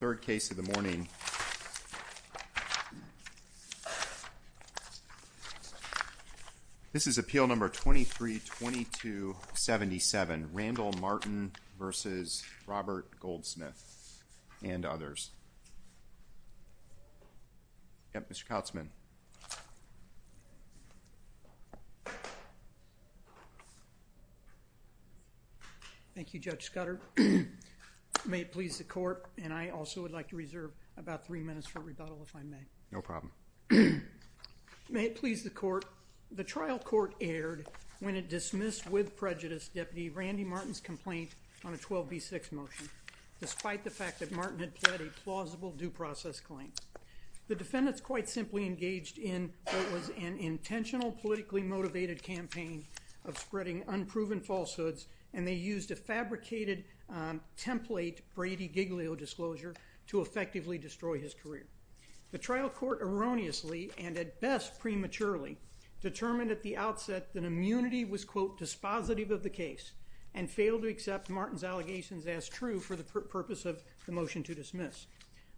Third case of the morning. This is appeal number 232277. Randall Martin v. Robert Goldsmith and others. Mr. Kautzman. Thank you, Judge Scudder. May it please the court, and I also would like to reserve about three minutes for rebuttal if I may. No problem. May it please the court, the trial court aired when it dismissed with prejudice Deputy Randy Martin's complaint on a 12b6 motion despite the fact that Martin had pled a plausible due process claim. The defendants quite simply engaged in what was an intentional politically motivated campaign of spreading unproven falsehoods and they used a fabricated template Brady Giglio disclosure to effectively destroy his career. The trial court erroneously and at best prematurely determined at the outset that immunity was quote dispositive of the case and failed to accept Martin's allegations as true for the purpose of the motion to dismiss.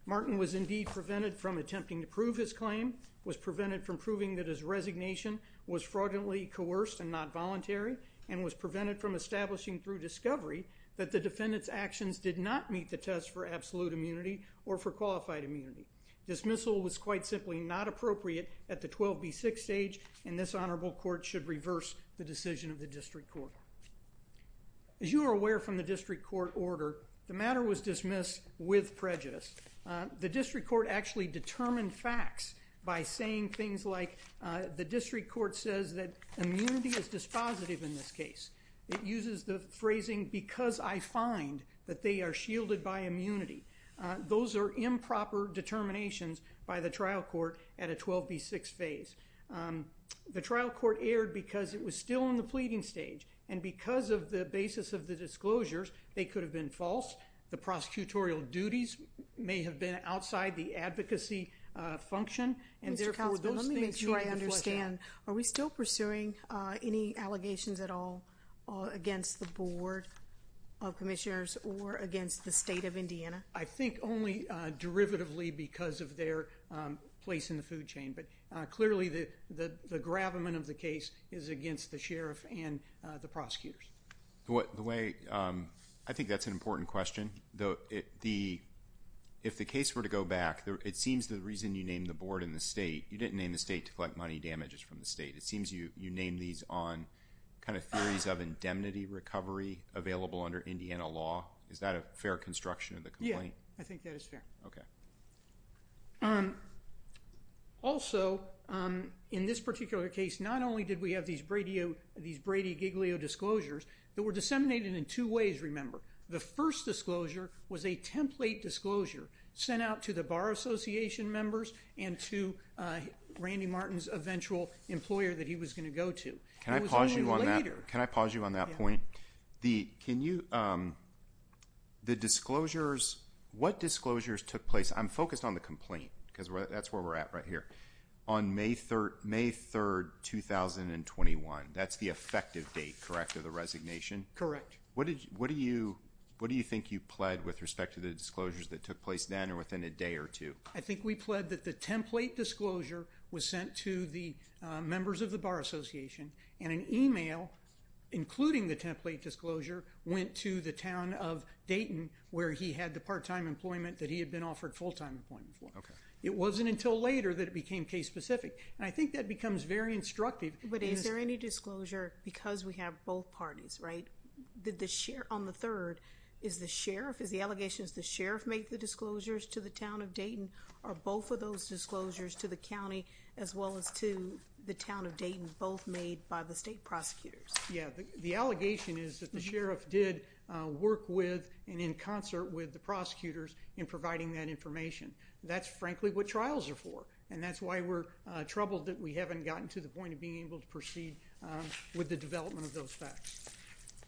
Martin was indeed prevented from attempting to prove his claim, was prevented from proving that his resignation was fraudulently coerced and not voluntary, and was prevented from establishing through discovery that the defendant's actions did not meet the test for absolute immunity or for qualified immunity. Dismissal was quite simply not appropriate at the 12b6 stage and this honorable court should reverse the decision of the district court. As you are aware from the district court order, the matter was dismissed with prejudice. The district court actually determined facts by saying things like the district court says that immunity is dispositive in this case. It uses the phrasing because I find that they are shielded by immunity. Those are improper determinations by the trial court at a 12b6 phase. The trial court erred because it was still in the pleading stage and because of the basis of the disclosures they could have been false. The prosecutorial duties may have been outside the advocacy function and therefore those things should be flushed out. Let me make sure I understand. Are we still pursuing any allegations at all against the board of commissioners or against the state of Indiana? I think only derivatively because of their place in the food chain but clearly the gravamen of the case is against the sheriff and the prosecutors. I think that is an important question. If the case were to go back, it seems the reason you named the board and the state, you didn't name the state to collect money damages from the state. It seems you named these on theories of indemnity recovery available under Indiana law. Is that a fair construction of the complaint? Yes, I think that is fair. Also, in this particular case, the board of commissioners in this particular case, not only did we have these Brady Giglio disclosures, they were disseminated in two ways, remember. The first disclosure was a template disclosure sent out to the Bar Association members and to Randy Martin's eventual employer that he was going to go to. Can I pause you on that point? What disclosures took place? I'm focused on the complaint because that's where we're at right here. On May 3rd, 2021, that's the effective date, correct, of the resignation? Correct. What do you think you pled with respect to the disclosures that took place then or within a day or two? I think we pled that the template disclosure was sent to the members of the Bar Association and an email, including the template disclosure, went to the town of Dayton where he had the part-time employment that he had been offered full-time employment for. It wasn't until later that it became case-specific. I think that becomes very instructive. But is there any disclosure because we have both parties, right? On the third, is the sheriff, is the allegation that the sheriff made the disclosures to the town of Dayton or both of those disclosures to the county as well as to the town of Dayton both made by the state prosecutors? Yes, the allegation is that the sheriff did work with and in concert with the prosecutors in providing that information. That's frankly what trials are for and that's why we're troubled that we haven't gotten to the point of being able to proceed with the development of those facts.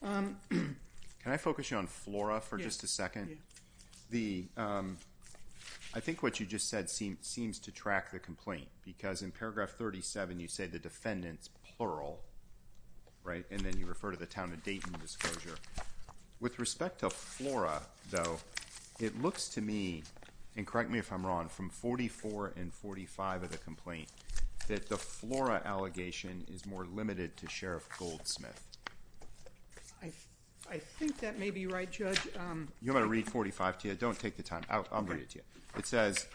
Can I focus on FLORA for just a second? I think what you just said seems to track the complaint because in paragraph 37 you say the defendant's plural, right? And then you refer to the town of Dayton disclosure. With respect to FLORA though, it looks to me, and correct me if I'm wrong, from 44 and 45 of the complaint that the FLORA allegation is more limited to Sheriff Goldsmith. I think that may be right, Judge. You want me to read 45 to you? Don't take the time. I'll read it to you. It says,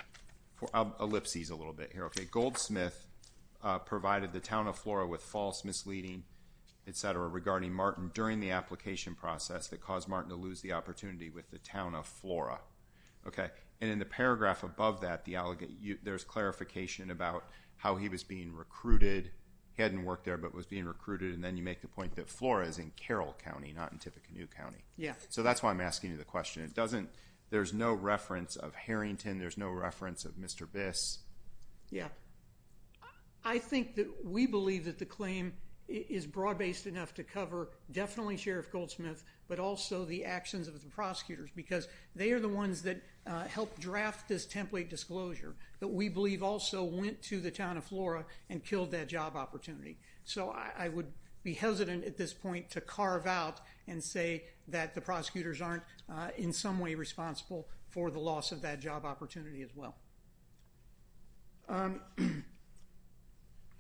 ellipses a little bit here. Okay, Goldsmith provided the town of FLORA with false misleading, etc. regarding Martin during the application process that caused Martin to lose the opportunity with the town of FLORA. Okay, and in the paragraph above that, there's clarification about how he was being recruited. He hadn't worked there but was being recruited and then you make the point that FLORA is in Carroll County, not in Tippecanoe County. So that's why I'm asking you the question. There's no reference of Harrington. There's no reference of Mr. Biss. Yeah. I think that we believe that the claim is broad-based enough to cover definitely Sheriff Goldsmith but also the actions of the prosecutors because they are the ones that helped draft this template disclosure that we believe also went to the town of FLORA and killed that job opportunity. So I would be hesitant at this point to carve out and say that the prosecutors aren't in some way responsible for the loss of that job opportunity as well.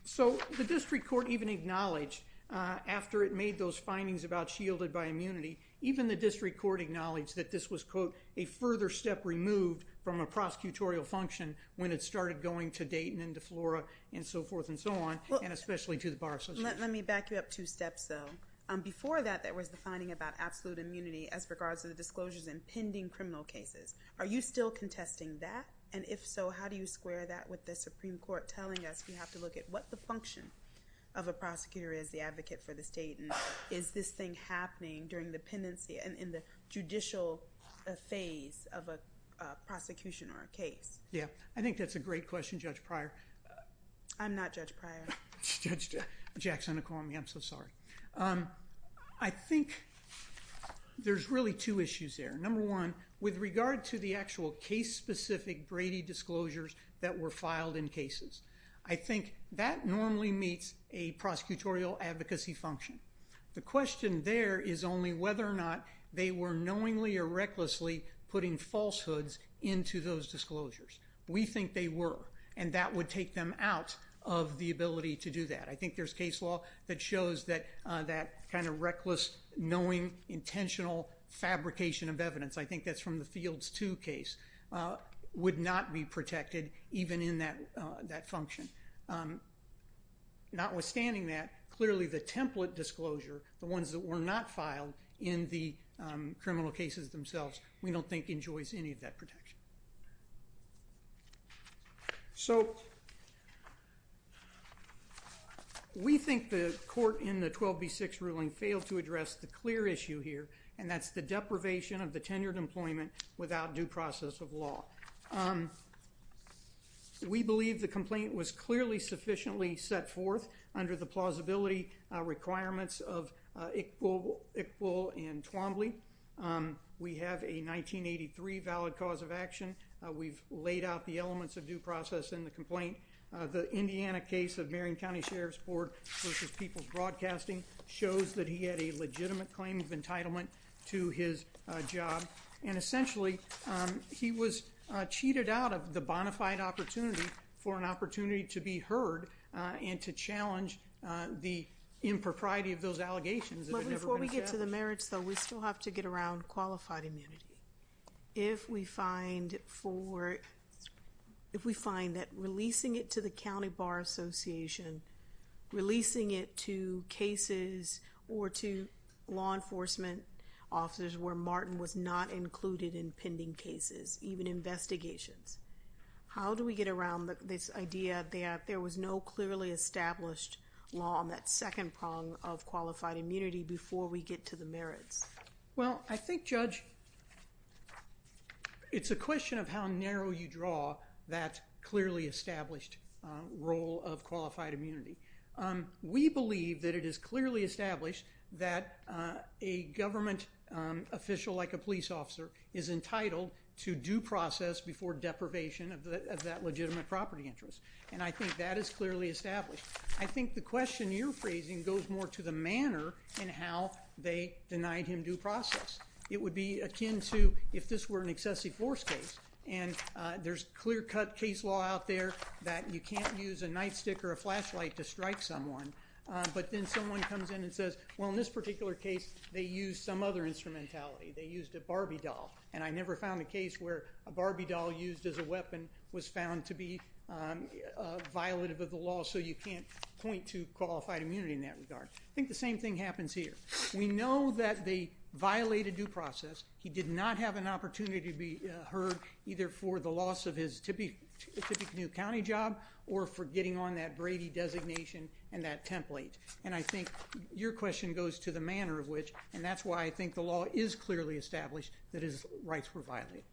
So the district court even acknowledged after it made those findings about shielded by immunity, even the district court acknowledged that this was, quote, a further step removed from a prosecutorial function when it started going to Dayton and to FLORA and so forth and so on and especially to the Bar Association. Let me back you up two steps though. Before that, there was the finding about absolute immunity as regards to the disclosures in pending criminal cases. Are you still contesting that? And if so, how do you square that with the Supreme Court telling us we have to look at what the function of a prosecutor is, the advocate for the state, and is this thing happening during the pendency and in the judicial phase of a prosecution or a case? Yeah. I think that's a great question, Judge Pryor. I'm not Judge Pryor. I'm Judge Jackson. I'm so sorry. I think there's really two issues there. Number one, with regard to the actual case-specific Brady disclosures that were filed in cases, I think that normally meets a prosecutorial advocacy function. The question there is only whether or not they were knowingly or recklessly putting falsehoods into those disclosures. We think they were, and that would take them out of the ability to do that. I think there's case law that shows that that kind of reckless, knowing, intentional fabrication of evidence, I think that's from the Fields 2 case, would not be protected even in that function. Notwithstanding that, clearly the template disclosure, the ones that were not filed in the criminal cases themselves, we don't think enjoys any of that protection. So, we think the court in the 12B6 ruling failed to address the clear issue here, and that's the deprivation of the tenured employment without due process of law. We believe the complaint was clearly sufficiently set forth under the plausibility requirements of Iqbal and Twombly. We have a 1983 valid cause of action. We've laid out the elements of due process in the complaint. The Indiana case of Marion County Sheriff's Board v. People's Broadcasting shows that he had a legitimate claim of entitlement to his job, and essentially, he was cheated out of the bona fide opportunity for an opportunity to be heard and to challenge the impropriety of those allegations. But before we get to the merits, though, we still have to get around qualified immunity. If we find that releasing it to the County Bar Association, releasing it to cases or to law enforcement officers where Martin was not included in pending cases, even investigations, how do we get around this idea that there was no clearly established law on that second prong of qualified immunity before we get to the merits? Well, I think, Judge, it's a question of how narrow you draw that clearly established role of qualified immunity. We believe that it is clearly established that a government official like a police officer is entitled to due process before deprivation of that legitimate property interest. And I think that is clearly established. I think the question you're phrasing goes more to the manner in how they denied him due process. It would be akin to if this were an excessive force case, and there's clear-cut case law out there that you can't use a nightstick or a flashlight to strike someone. But then someone comes in and says, well, in this particular case, they used some other instrumentality. They used a Barbie doll. And I never found a case where a Barbie doll used as a weapon was found to be violative of the law, so you can't point to qualified immunity in that regard. I think the same thing happens here. We know that they violated due process. He did not have an opportunity to be heard either for the loss of his Tippecanoe County job or for getting on that Brady designation and that template. And I think your question goes to the manner of which, and that's why I think the law is clearly established that his rights were violated.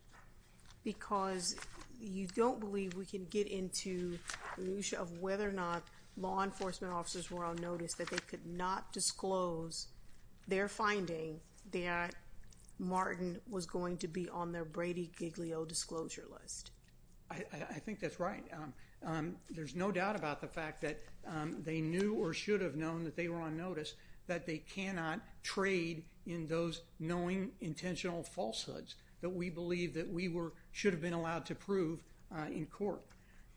Because you don't believe we can get into the issue of whether or not law enforcement officers were on notice that they could not disclose their finding that Martin was going to be on their Brady Giglio disclosure list. I think that's right. There's no doubt about the fact that they knew or should have known that they were on notice, that they cannot trade in those knowing intentional falsehoods that we believe that we should have been allowed to prove in court.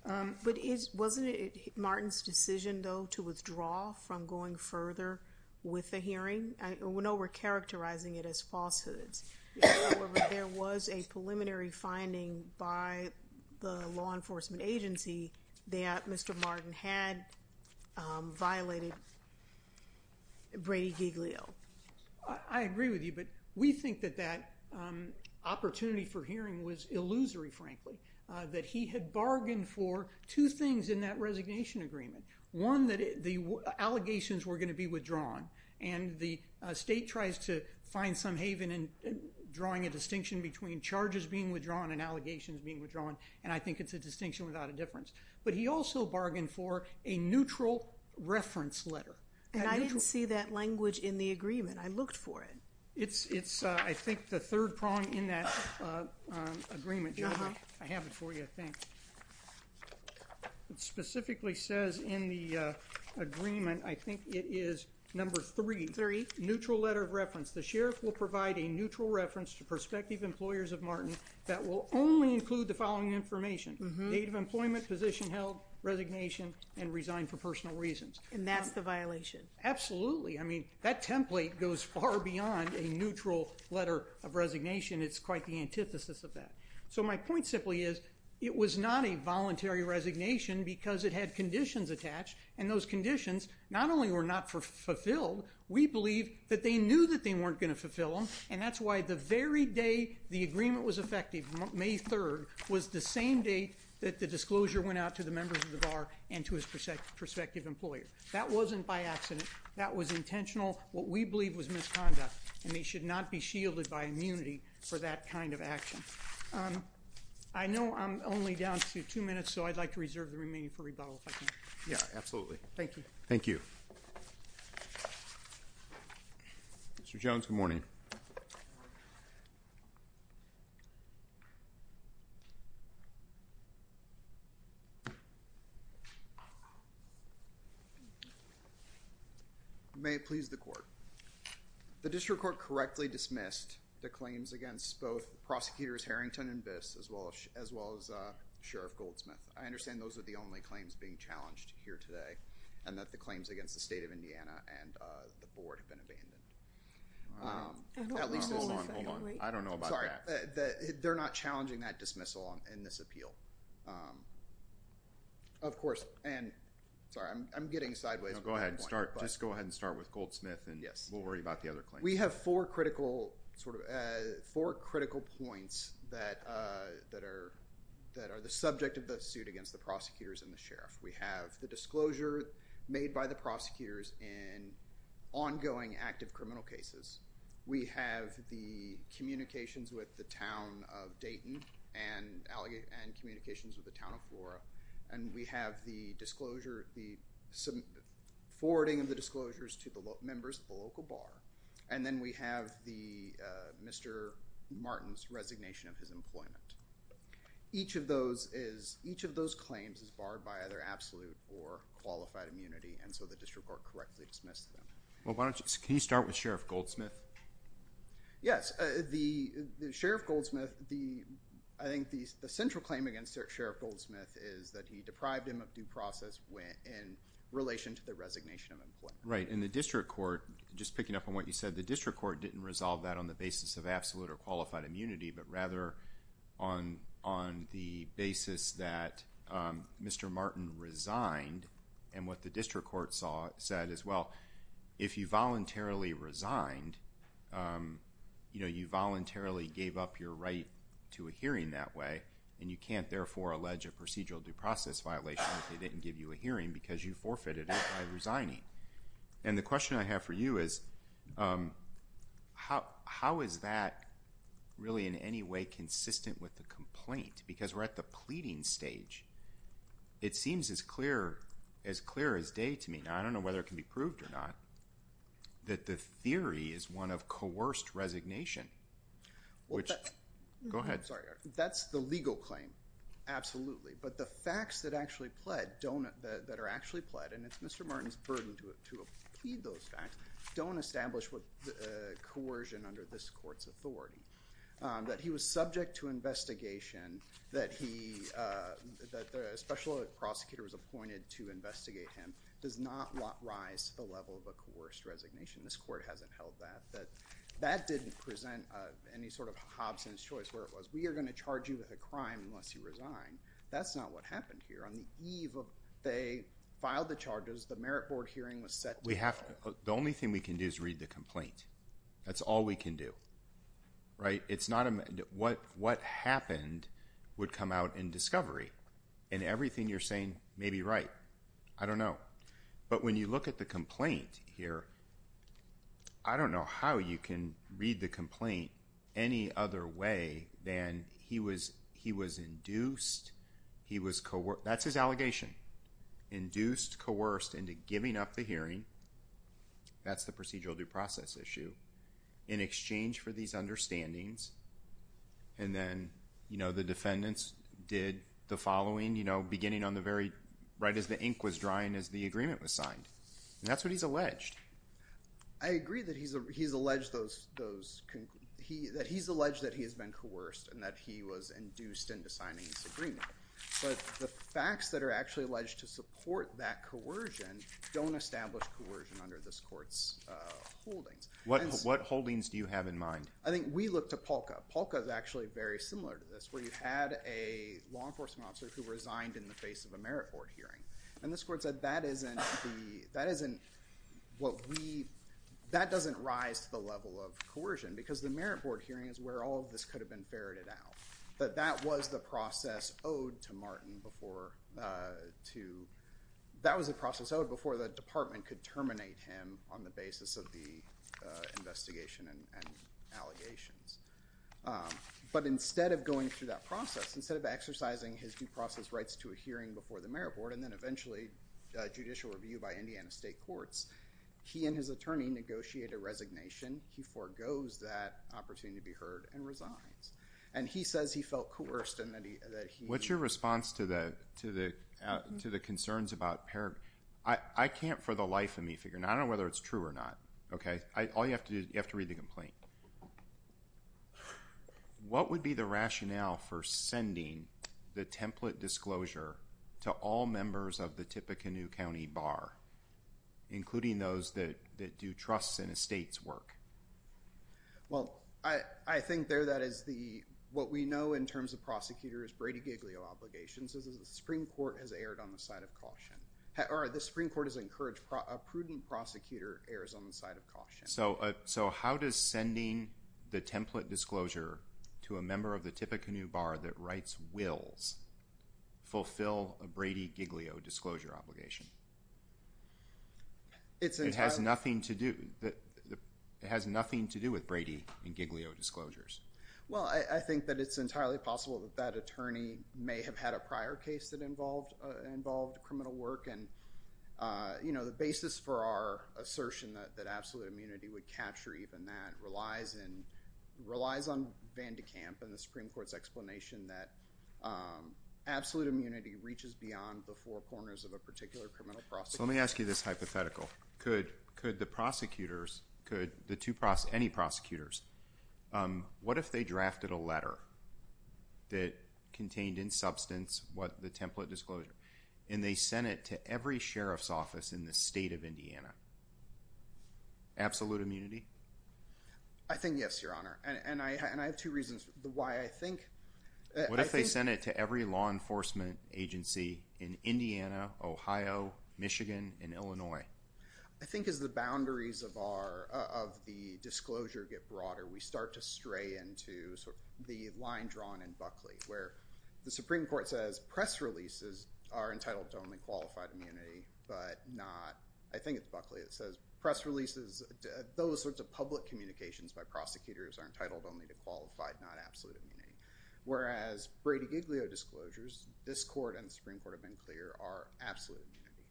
But wasn't it Martin's decision, though, to withdraw from going further with the hearing? We know we're characterizing it as falsehoods. However, there was a preliminary finding by the law enforcement agency that Mr. Martin had violated Brady Giglio. I agree with you, but we think that that opportunity for hearing was illusory, frankly, that he had bargained for two things in that resignation agreement. One, that the allegations were going to be withdrawn. And the state tries to find some haven in drawing a distinction between charges being withdrawn and allegations being withdrawn. And I think it's a distinction without a difference. But he also bargained for a neutral reference letter. And I didn't see that language in the agreement. I looked for it. It's, I think, the third prong in that agreement. I have it for you, I think. It specifically says in the agreement, I think it is number three. Neutral letter of reference. The sheriff will provide a neutral reference to prospective employers of Martin that will only include the following information. Date of employment, position held, resignation, and resign for personal reasons. And that's the violation? Absolutely. I mean, that template goes far beyond a neutral letter of resignation. It's quite the antithesis of that. So my point simply is, it was not a voluntary resignation because it had conditions attached. And those conditions not only were not fulfilled, we believe that they knew that they weren't going to fulfill them. And that's why the very day the agreement was effective, May 3rd, was the same date that the disclosure went out to the members of the bar and to his prospective employer. That wasn't by accident. That was intentional. What we believe was misconduct. And they should not be shielded by immunity for that kind of action. I know I'm only down to two minutes, so I'd like to reserve the remaining for rebuttal if I can. Yeah, absolutely. Thank you. Mr. Jones, good morning. Good morning. May it please the Court. The District Court correctly dismissed the claims against both Prosecutors Harrington and Biss, as well as Sheriff Goldsmith. I understand those are the only claims being challenged here today, and that the claims against the State of Indiana and the Board have been abandoned. Hold on, hold on. I don't know about that. Sorry. They're not challenging that dismissal in this appeal. Of course, and sorry, I'm getting sideways. No, go ahead and start. Just go ahead and start with Goldsmith, and we'll worry about the other claims. We have four critical points that are the subject of the suit against the Prosecutors and the Sheriff. We have the disclosure made by the Prosecutors in ongoing active criminal cases. We have the communications with the Town of Dayton and communications with the Town of Flora. And we have the disclosure, the forwarding of the disclosures to the members of the local bar. And then we have the, Mr. Martin's resignation of his employment. Each of those is, each of those claims is barred by either absolute or qualified immunity, and so the District Court correctly dismissed them. Well, why don't you, can you start with Sheriff Goldsmith? Yes. The, Sheriff Goldsmith, the, I think the central claim against Sheriff Goldsmith is that he deprived him of due process in relation to the resignation of employment. Right, and the District Court, just picking up on what you said, the District Court didn't resolve that on the basis of absolute or qualified immunity, but rather on the basis that Mr. Martin resigned. And what the District Court said is, well, if you voluntarily resigned, you know, you voluntarily gave up your right to a hearing that way, and you can't, therefore, allege a procedural due process violation if they didn't give you a hearing because you forfeited it by resigning. And the question I have for you is, how is that really in any way consistent with the complaint? Because we're at the pleading stage. It seems as clear, as clear as day to me. Now, I don't know whether it can be proved or not, that the theory is one of coerced resignation, which, go ahead. I'm sorry, that's the legal claim, absolutely. But the facts that actually pled don't, that are actually pled, and it's Mr. Martin's burden to plead those facts, don't establish coercion under this court's authority. That he was subject to investigation, that he, that a special prosecutor was appointed to investigate him does not rise to the level of a coerced resignation. This court hasn't held that. That that didn't present any sort of Hobson's choice where it was, we are going to charge you with a crime unless you resign. That's not what happened here. On the eve of they filed the charges, the merit board hearing was set. We have to, the only thing we can do is read the complaint. That's all we can do. Right? It's not, what happened would come out in discovery. And everything you're saying may be right. I don't know. But when you look at the complaint here, I don't know how you can read the complaint any other way than he was, he was induced, he was, that's his allegation. Induced, coerced into giving up the hearing. That's the procedural due process issue. In exchange for these understandings. And then, you know, the defendants did the following, you know, beginning on the very, right as the ink was drying as the agreement was signed. And that's what he's alleged. I agree that he's, he's alleged those, those, he, that he's alleged that he has been coerced and that he was induced into signing this agreement. But the facts that are actually alleged to support that coercion don't establish coercion under this court's holdings. What holdings do you have in mind? I think we look to Polka. Polka is actually very similar to this, where you had a law enforcement officer who resigned in the face of a merit board hearing. And this court said that isn't the, that isn't what we, that doesn't rise to the level of coercion. Because the merit board hearing is where all of this could have been ferreted out. But that was the process owed to Martin before, to, that was the process owed before the department could terminate him on the basis of the investigation and allegations. But instead of going through that process, instead of exercising his due process rights to a hearing before the merit board, and then eventually judicial review by Indiana state courts. He and his attorney negotiate a resignation. He forgoes that opportunity to be heard and resigns. And he says he felt coerced and that he. What's your response to the, to the, to the concerns about parent? I can't for the life of me figure. I don't know whether it's true or not. Okay. All you have to do, you have to read the complaint. What would be the rationale for sending the template disclosure to all members of the Tippecanoe County Bar, including those that do trusts and estates work? Well, I, I think there, that is the, what we know in terms of prosecutors, Brady Giglio obligations is the Supreme Court has aired on the side of caution or the Supreme Court has encouraged a prudent prosecutor errors on the side of caution. So, so how does sending the template disclosure to a member of the Tippecanoe Bar that writes wills fulfill a Brady Giglio disclosure obligation? It's entirely. It has nothing to do, it has nothing to do with Brady and Giglio disclosures. Well, I, I think that it's entirely possible that that attorney may have had a prior case that involved, involved criminal work. And, you know, the basis for our assertion that, that absolute immunity would capture even that relies in, relies on Van de Kamp and the Supreme Court's explanation that absolute immunity reaches beyond the four corners of a particular criminal prosecution. So let me ask you this hypothetical. Could, could the prosecutors, could the two, any prosecutors, what if they drafted a letter that contained in substance what the template disclosure, and they sent it to every sheriff's office in the state of Indiana? Absolute immunity? I think yes, Your Honor. And I, and I have two reasons why I think. What if they sent it to every law enforcement agency in Indiana, Ohio, Michigan, and Illinois? I think as the boundaries of our, of the disclosure get broader, we start to stray into sort of the line drawn in Buckley, where the Supreme Court says press releases are entitled to only qualified immunity, but not, I think it's Buckley that says press releases, those sorts of public communications by prosecutors are entitled only to qualified, not absolute immunity. Whereas Brady Giglio disclosures, this court and the Supreme Court have been clear, are absolute immunity.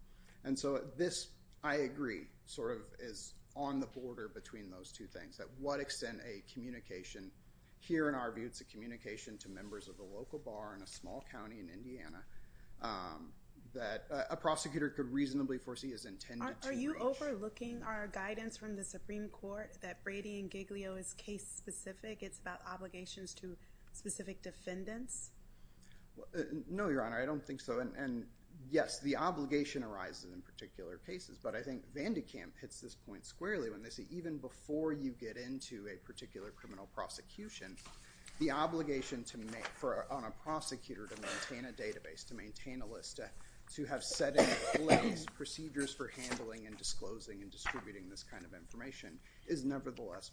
And so this, I agree, sort of is on the border between those two things. At what extent a communication, here in our view it's a communication to members of the local bar in a small county in Indiana that a prosecutor could reasonably foresee is intended to. Are you overlooking our guidance from the Supreme Court that Brady and Giglio is case specific? It's about obligations to specific defendants? No, Your Honor, I don't think so. Yes, the obligation arises in particular cases, but I think Vandekamp hits this point squarely when they say even before you get into a particular criminal prosecution, the obligation on a prosecutor to maintain a database, to maintain a list, to have set in place procedures for handling and disclosing and distributing this kind of information is nevertheless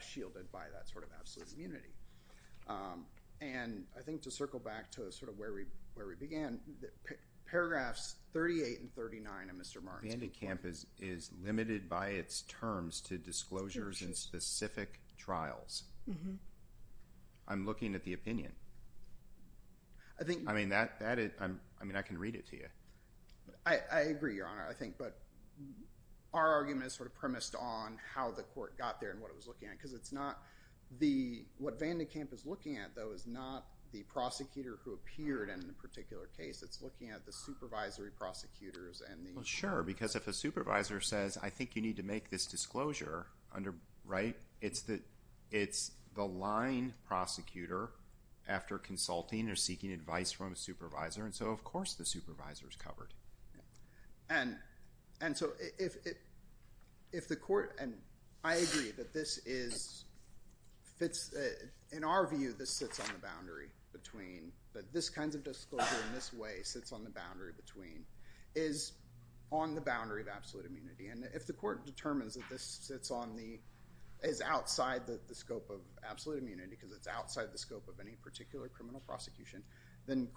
shielded by that sort of absolute immunity. And I think to circle back to sort of where we began, paragraphs 38 and 39 of Mr. Martin's report. Vandekamp is limited by its terms to disclosures in specific trials. I'm looking at the opinion. I mean, I can read it to you. I agree, Your Honor, I think, but our argument is sort of premised on how the court got there and what it was looking at. Because it's not the, what Vandekamp is looking at, though, is not the prosecutor who appeared in a particular case. It's looking at the supervisory prosecutors. Well, sure, because if a supervisor says, I think you need to make this disclosure, right, it's the line prosecutor after consulting or seeking advice from a supervisor. And so, of course, the supervisor is covered. And so if the court, and I agree that this is, in our view, this sits on the boundary between, that this kind of disclosure in this way sits on the boundary between, is on the boundary of absolute immunity. And if the court determines that this sits on the, is outside the scope of absolute immunity, because it's outside the scope of any particular criminal prosecution, then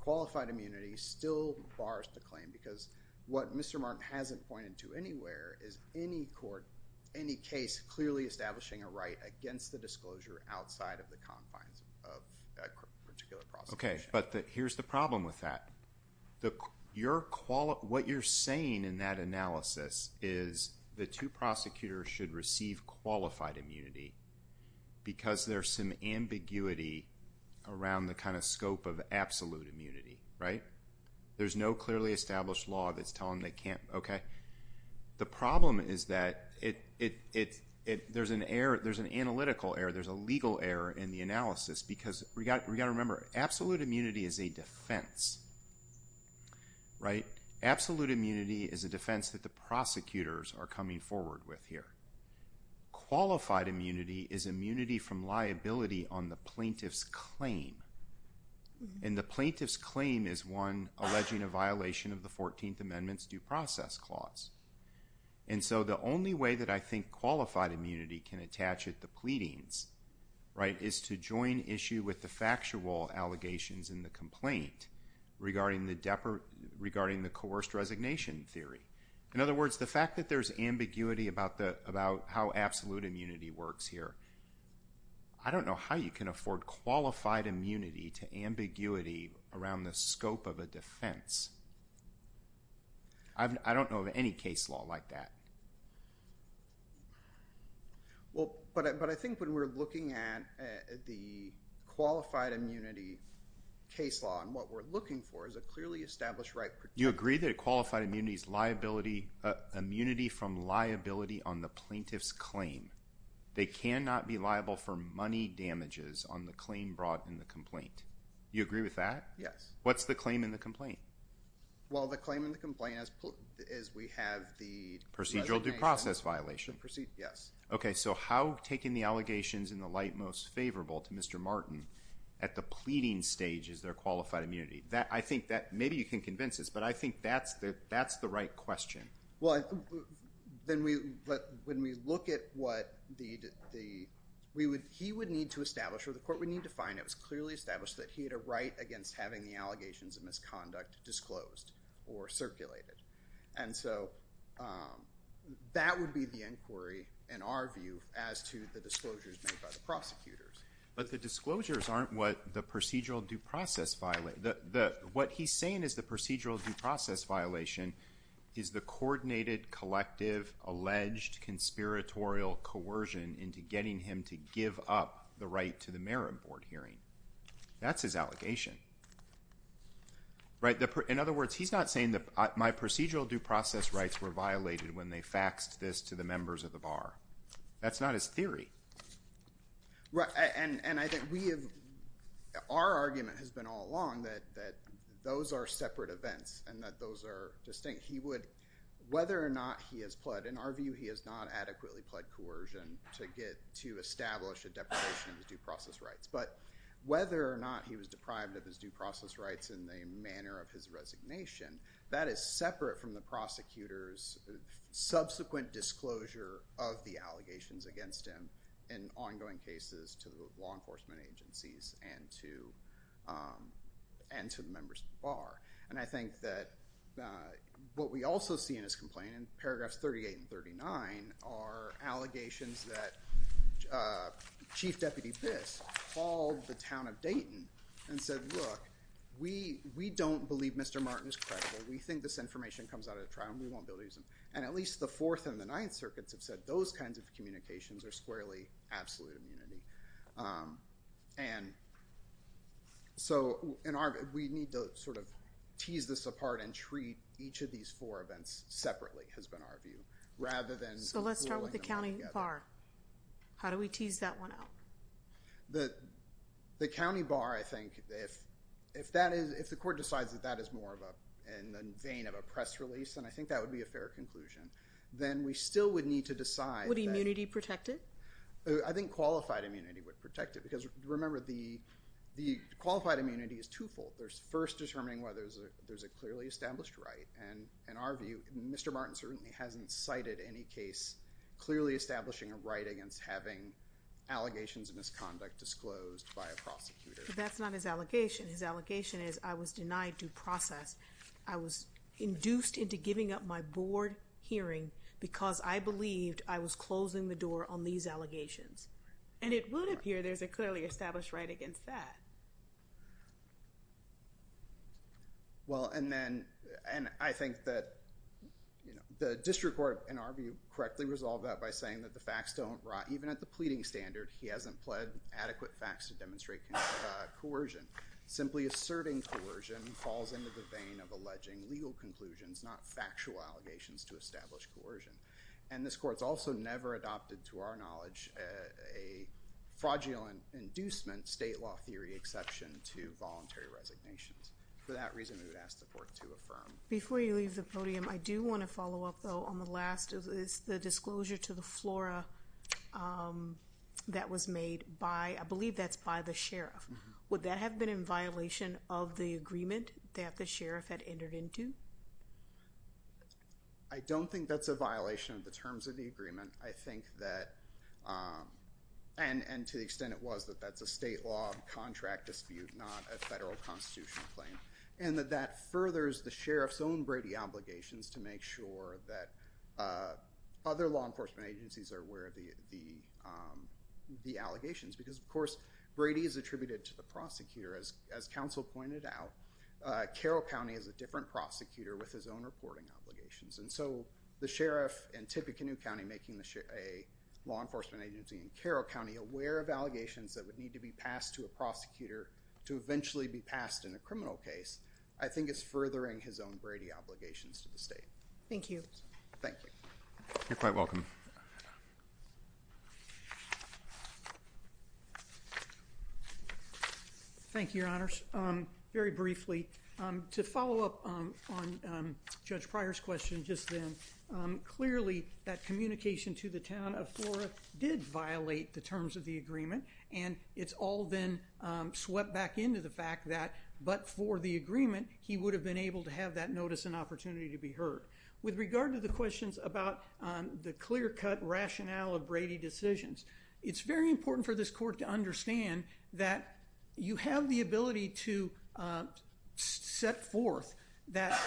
qualified immunity still bars the claim. Because what Mr. Martin hasn't pointed to anywhere is any court, any case clearly establishing a right against the disclosure outside of the confines of a particular prosecution. Okay, but here's the problem with that. What you're saying in that analysis is the two prosecutors should receive qualified immunity because there's some ambiguity around the kind of scope of absolute immunity, right? There's no clearly established law that's telling them they can't, okay. The problem is that there's an analytical error, there's a legal error in the analysis. Because we've got to remember, absolute immunity is a defense, right? Absolute immunity is a defense that the prosecutors are coming forward with here. Qualified immunity is immunity from liability on the plaintiff's claim. And the plaintiff's claim is one alleging a violation of the 14th Amendment's due process clause. And so the only way that I think qualified immunity can attach at the pleadings, right, is to join issue with the factual allegations in the complaint regarding the coerced resignation theory. In other words, the fact that there's ambiguity about how absolute immunity works here, I don't know how you can afford qualified immunity to ambiguity around the scope of a defense. I don't know of any case law like that. Well, but I think when we're looking at the qualified immunity case law and what we're looking for is a clearly established right. You agree that qualified immunity is immunity from liability on the plaintiff's claim. They cannot be liable for money damages on the claim brought in the complaint. You agree with that? Yes. What's the claim in the complaint? Well, the claim in the complaint is we have the— Procedural due process violation. Yes. Okay, so how taking the allegations in the light most favorable to Mr. Martin at the pleading stage is there qualified immunity? I think that maybe you can convince us, but I think that's the right question. Well, when we look at what the—he would need to establish or the court would need to find it was clearly established that he had a right against having the allegations of misconduct disclosed or circulated. And so that would be the inquiry in our view as to the disclosures made by the prosecutors. But the disclosures aren't what the procedural due process—what he's saying is the procedural due process violation is the coordinated collective alleged conspiratorial coercion into getting him to give up the right to the merit board hearing. That's his allegation. In other words, he's not saying that my procedural due process rights were violated when they faxed this to the members of the bar. That's not his theory. Right, and I think we have—our argument has been all along that those are separate events and that those are distinct. He would—whether or not he has pled—in our view, he has not adequately pled coercion to establish a deprivation of his due process rights. But whether or not he was deprived of his due process rights in the manner of his resignation, that is separate from the prosecutor's subsequent disclosure of the allegations against him in ongoing cases to the law enforcement agencies and to the members of the bar. And I think that what we also see in his complaint in paragraphs 38 and 39 are allegations that Chief Deputy Biss called the town of Dayton and said, look, we don't believe Mr. Martin is credible. We think this information comes out of the trial, and we won't be able to use it. And at least the Fourth and the Ninth Circuits have said those kinds of communications are squarely absolute immunity. And so in our—we need to sort of tease this apart and treat each of these four events separately, has been our view, rather than— So let's start with the county bar. How do we tease that one out? The county bar, I think, if that is—if the court decides that that is more of a—in the vein of a press release, then I think that would be a fair conclusion. Then we still would need to decide that— Would immunity protect it? I think qualified immunity would protect it because, remember, the qualified immunity is twofold. There's first determining whether there's a clearly established right. And in our view, Mr. Martin certainly hasn't cited any case clearly establishing a right against having allegations of misconduct disclosed by a prosecutor. But that's not his allegation. His allegation is I was denied due process. I was induced into giving up my board hearing because I believed I was closing the door on these allegations. And it would appear there's a clearly established right against that. Well, and then—and I think that the district court, in our view, correctly resolved that by saying that the facts don't—even at the pleading standard, he hasn't pled adequate facts to demonstrate coercion. Simply asserting coercion falls into the vein of alleging legal conclusions, not factual allegations to establish coercion. And this court's also never adopted, to our knowledge, a fraudulent inducement state law theory exception to voluntary resignations. For that reason, we would ask the court to affirm. Before you leave the podium, I do want to follow up, though, on the last. It's the disclosure to the flora that was made by—I believe that's by the sheriff. Would that have been in violation of the agreement that the sheriff had entered into? I don't think that's a violation of the terms of the agreement. I think that—and to the extent it was, that that's a state law contract dispute, not a federal constitutional claim. And that that furthers the sheriff's own Brady obligations to make sure that other law enforcement agencies are aware of the allegations. Because, of course, Brady is attributed to the prosecutor. As counsel pointed out, Carroll County is a different prosecutor with his own reporting obligations. And so the sheriff in Tippecanoe County making a law enforcement agency in Carroll County aware of allegations that would need to be passed to a prosecutor to eventually be passed in a criminal case, I think is furthering his own Brady obligations to the state. Thank you. Thank you. You're quite welcome. Thank you, Your Honors. Very briefly, to follow up on Judge Pryor's question just then, clearly that communication to the town of Flora did violate the terms of the agreement. And it's all then swept back into the fact that, but for the agreement, he would have been able to have that notice and opportunity to be heard. With regard to the questions about the clear-cut rationale of Brady decisions, it's very important for this court to understand that you have the ability to set forth that,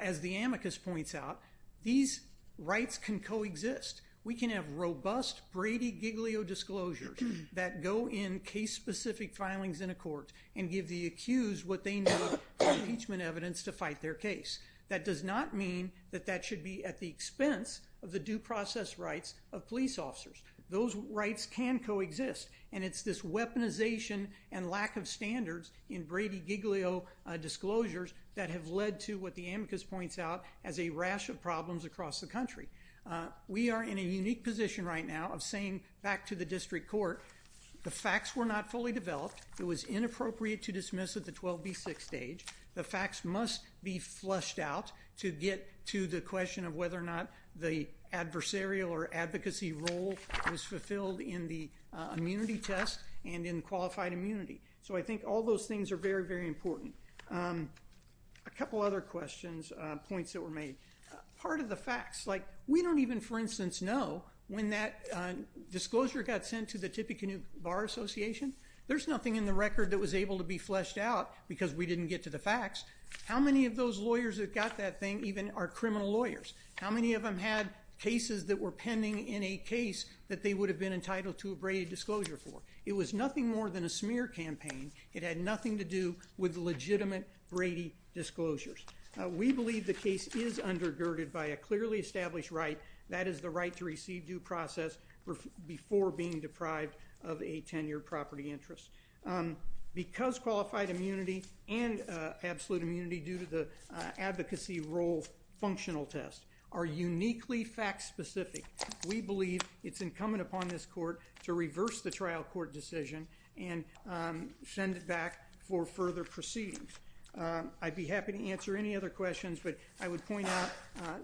as the amicus points out, these rights can coexist. We can have robust Brady-Giglio disclosures that go in case-specific filings in a court and give the accused what they need for impeachment evidence to fight their case. That does not mean that that should be at the expense of the due process rights of police officers. Those rights can coexist. And it's this weaponization and lack of standards in Brady-Giglio disclosures that have led to what the amicus points out as a rash of problems across the country. We are in a unique position right now of saying back to the district court, the facts were not fully developed. It was inappropriate to dismiss at the 12B6 stage. The facts must be fleshed out to get to the question of whether or not the adversarial or advocacy role was fulfilled in the immunity test and in qualified immunity. So I think all those things are very, very important. A couple other questions, points that were made. Part of the facts, like we don't even, for instance, know when that disclosure got sent to the Tippecanoe Bar Association. There's nothing in the record that was able to be fleshed out because we didn't get to the facts. How many of those lawyers that got that thing even are criminal lawyers? How many of them had cases that were pending in a case that they would have been entitled to a Brady disclosure for? It was nothing more than a smear campaign. It had nothing to do with legitimate Brady disclosures. We believe the case is undergirded by a clearly established right. That is the right to receive due process before being deprived of a 10-year property interest. Because qualified immunity and absolute immunity due to the advocacy role functional test are uniquely fact specific, we believe it's incumbent upon this court to reverse the trial court decision and send it back for further proceedings. I'd be happy to answer any other questions, but I would point out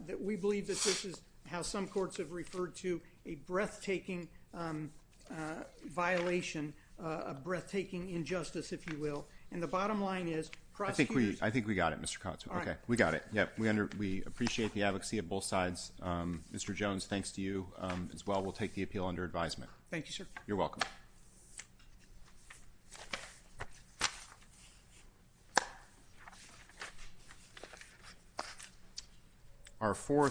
that we believe that this is how some courts have referred to, a breathtaking violation, a breathtaking injustice, if you will. And the bottom line is, prosecutors- I think we got it, Mr. Kotz. We got it. We appreciate the advocacy of both sides. Mr. Jones, thanks to you as well. We'll take the appeal under advisement. Thank you, sir. You're welcome. Thank you.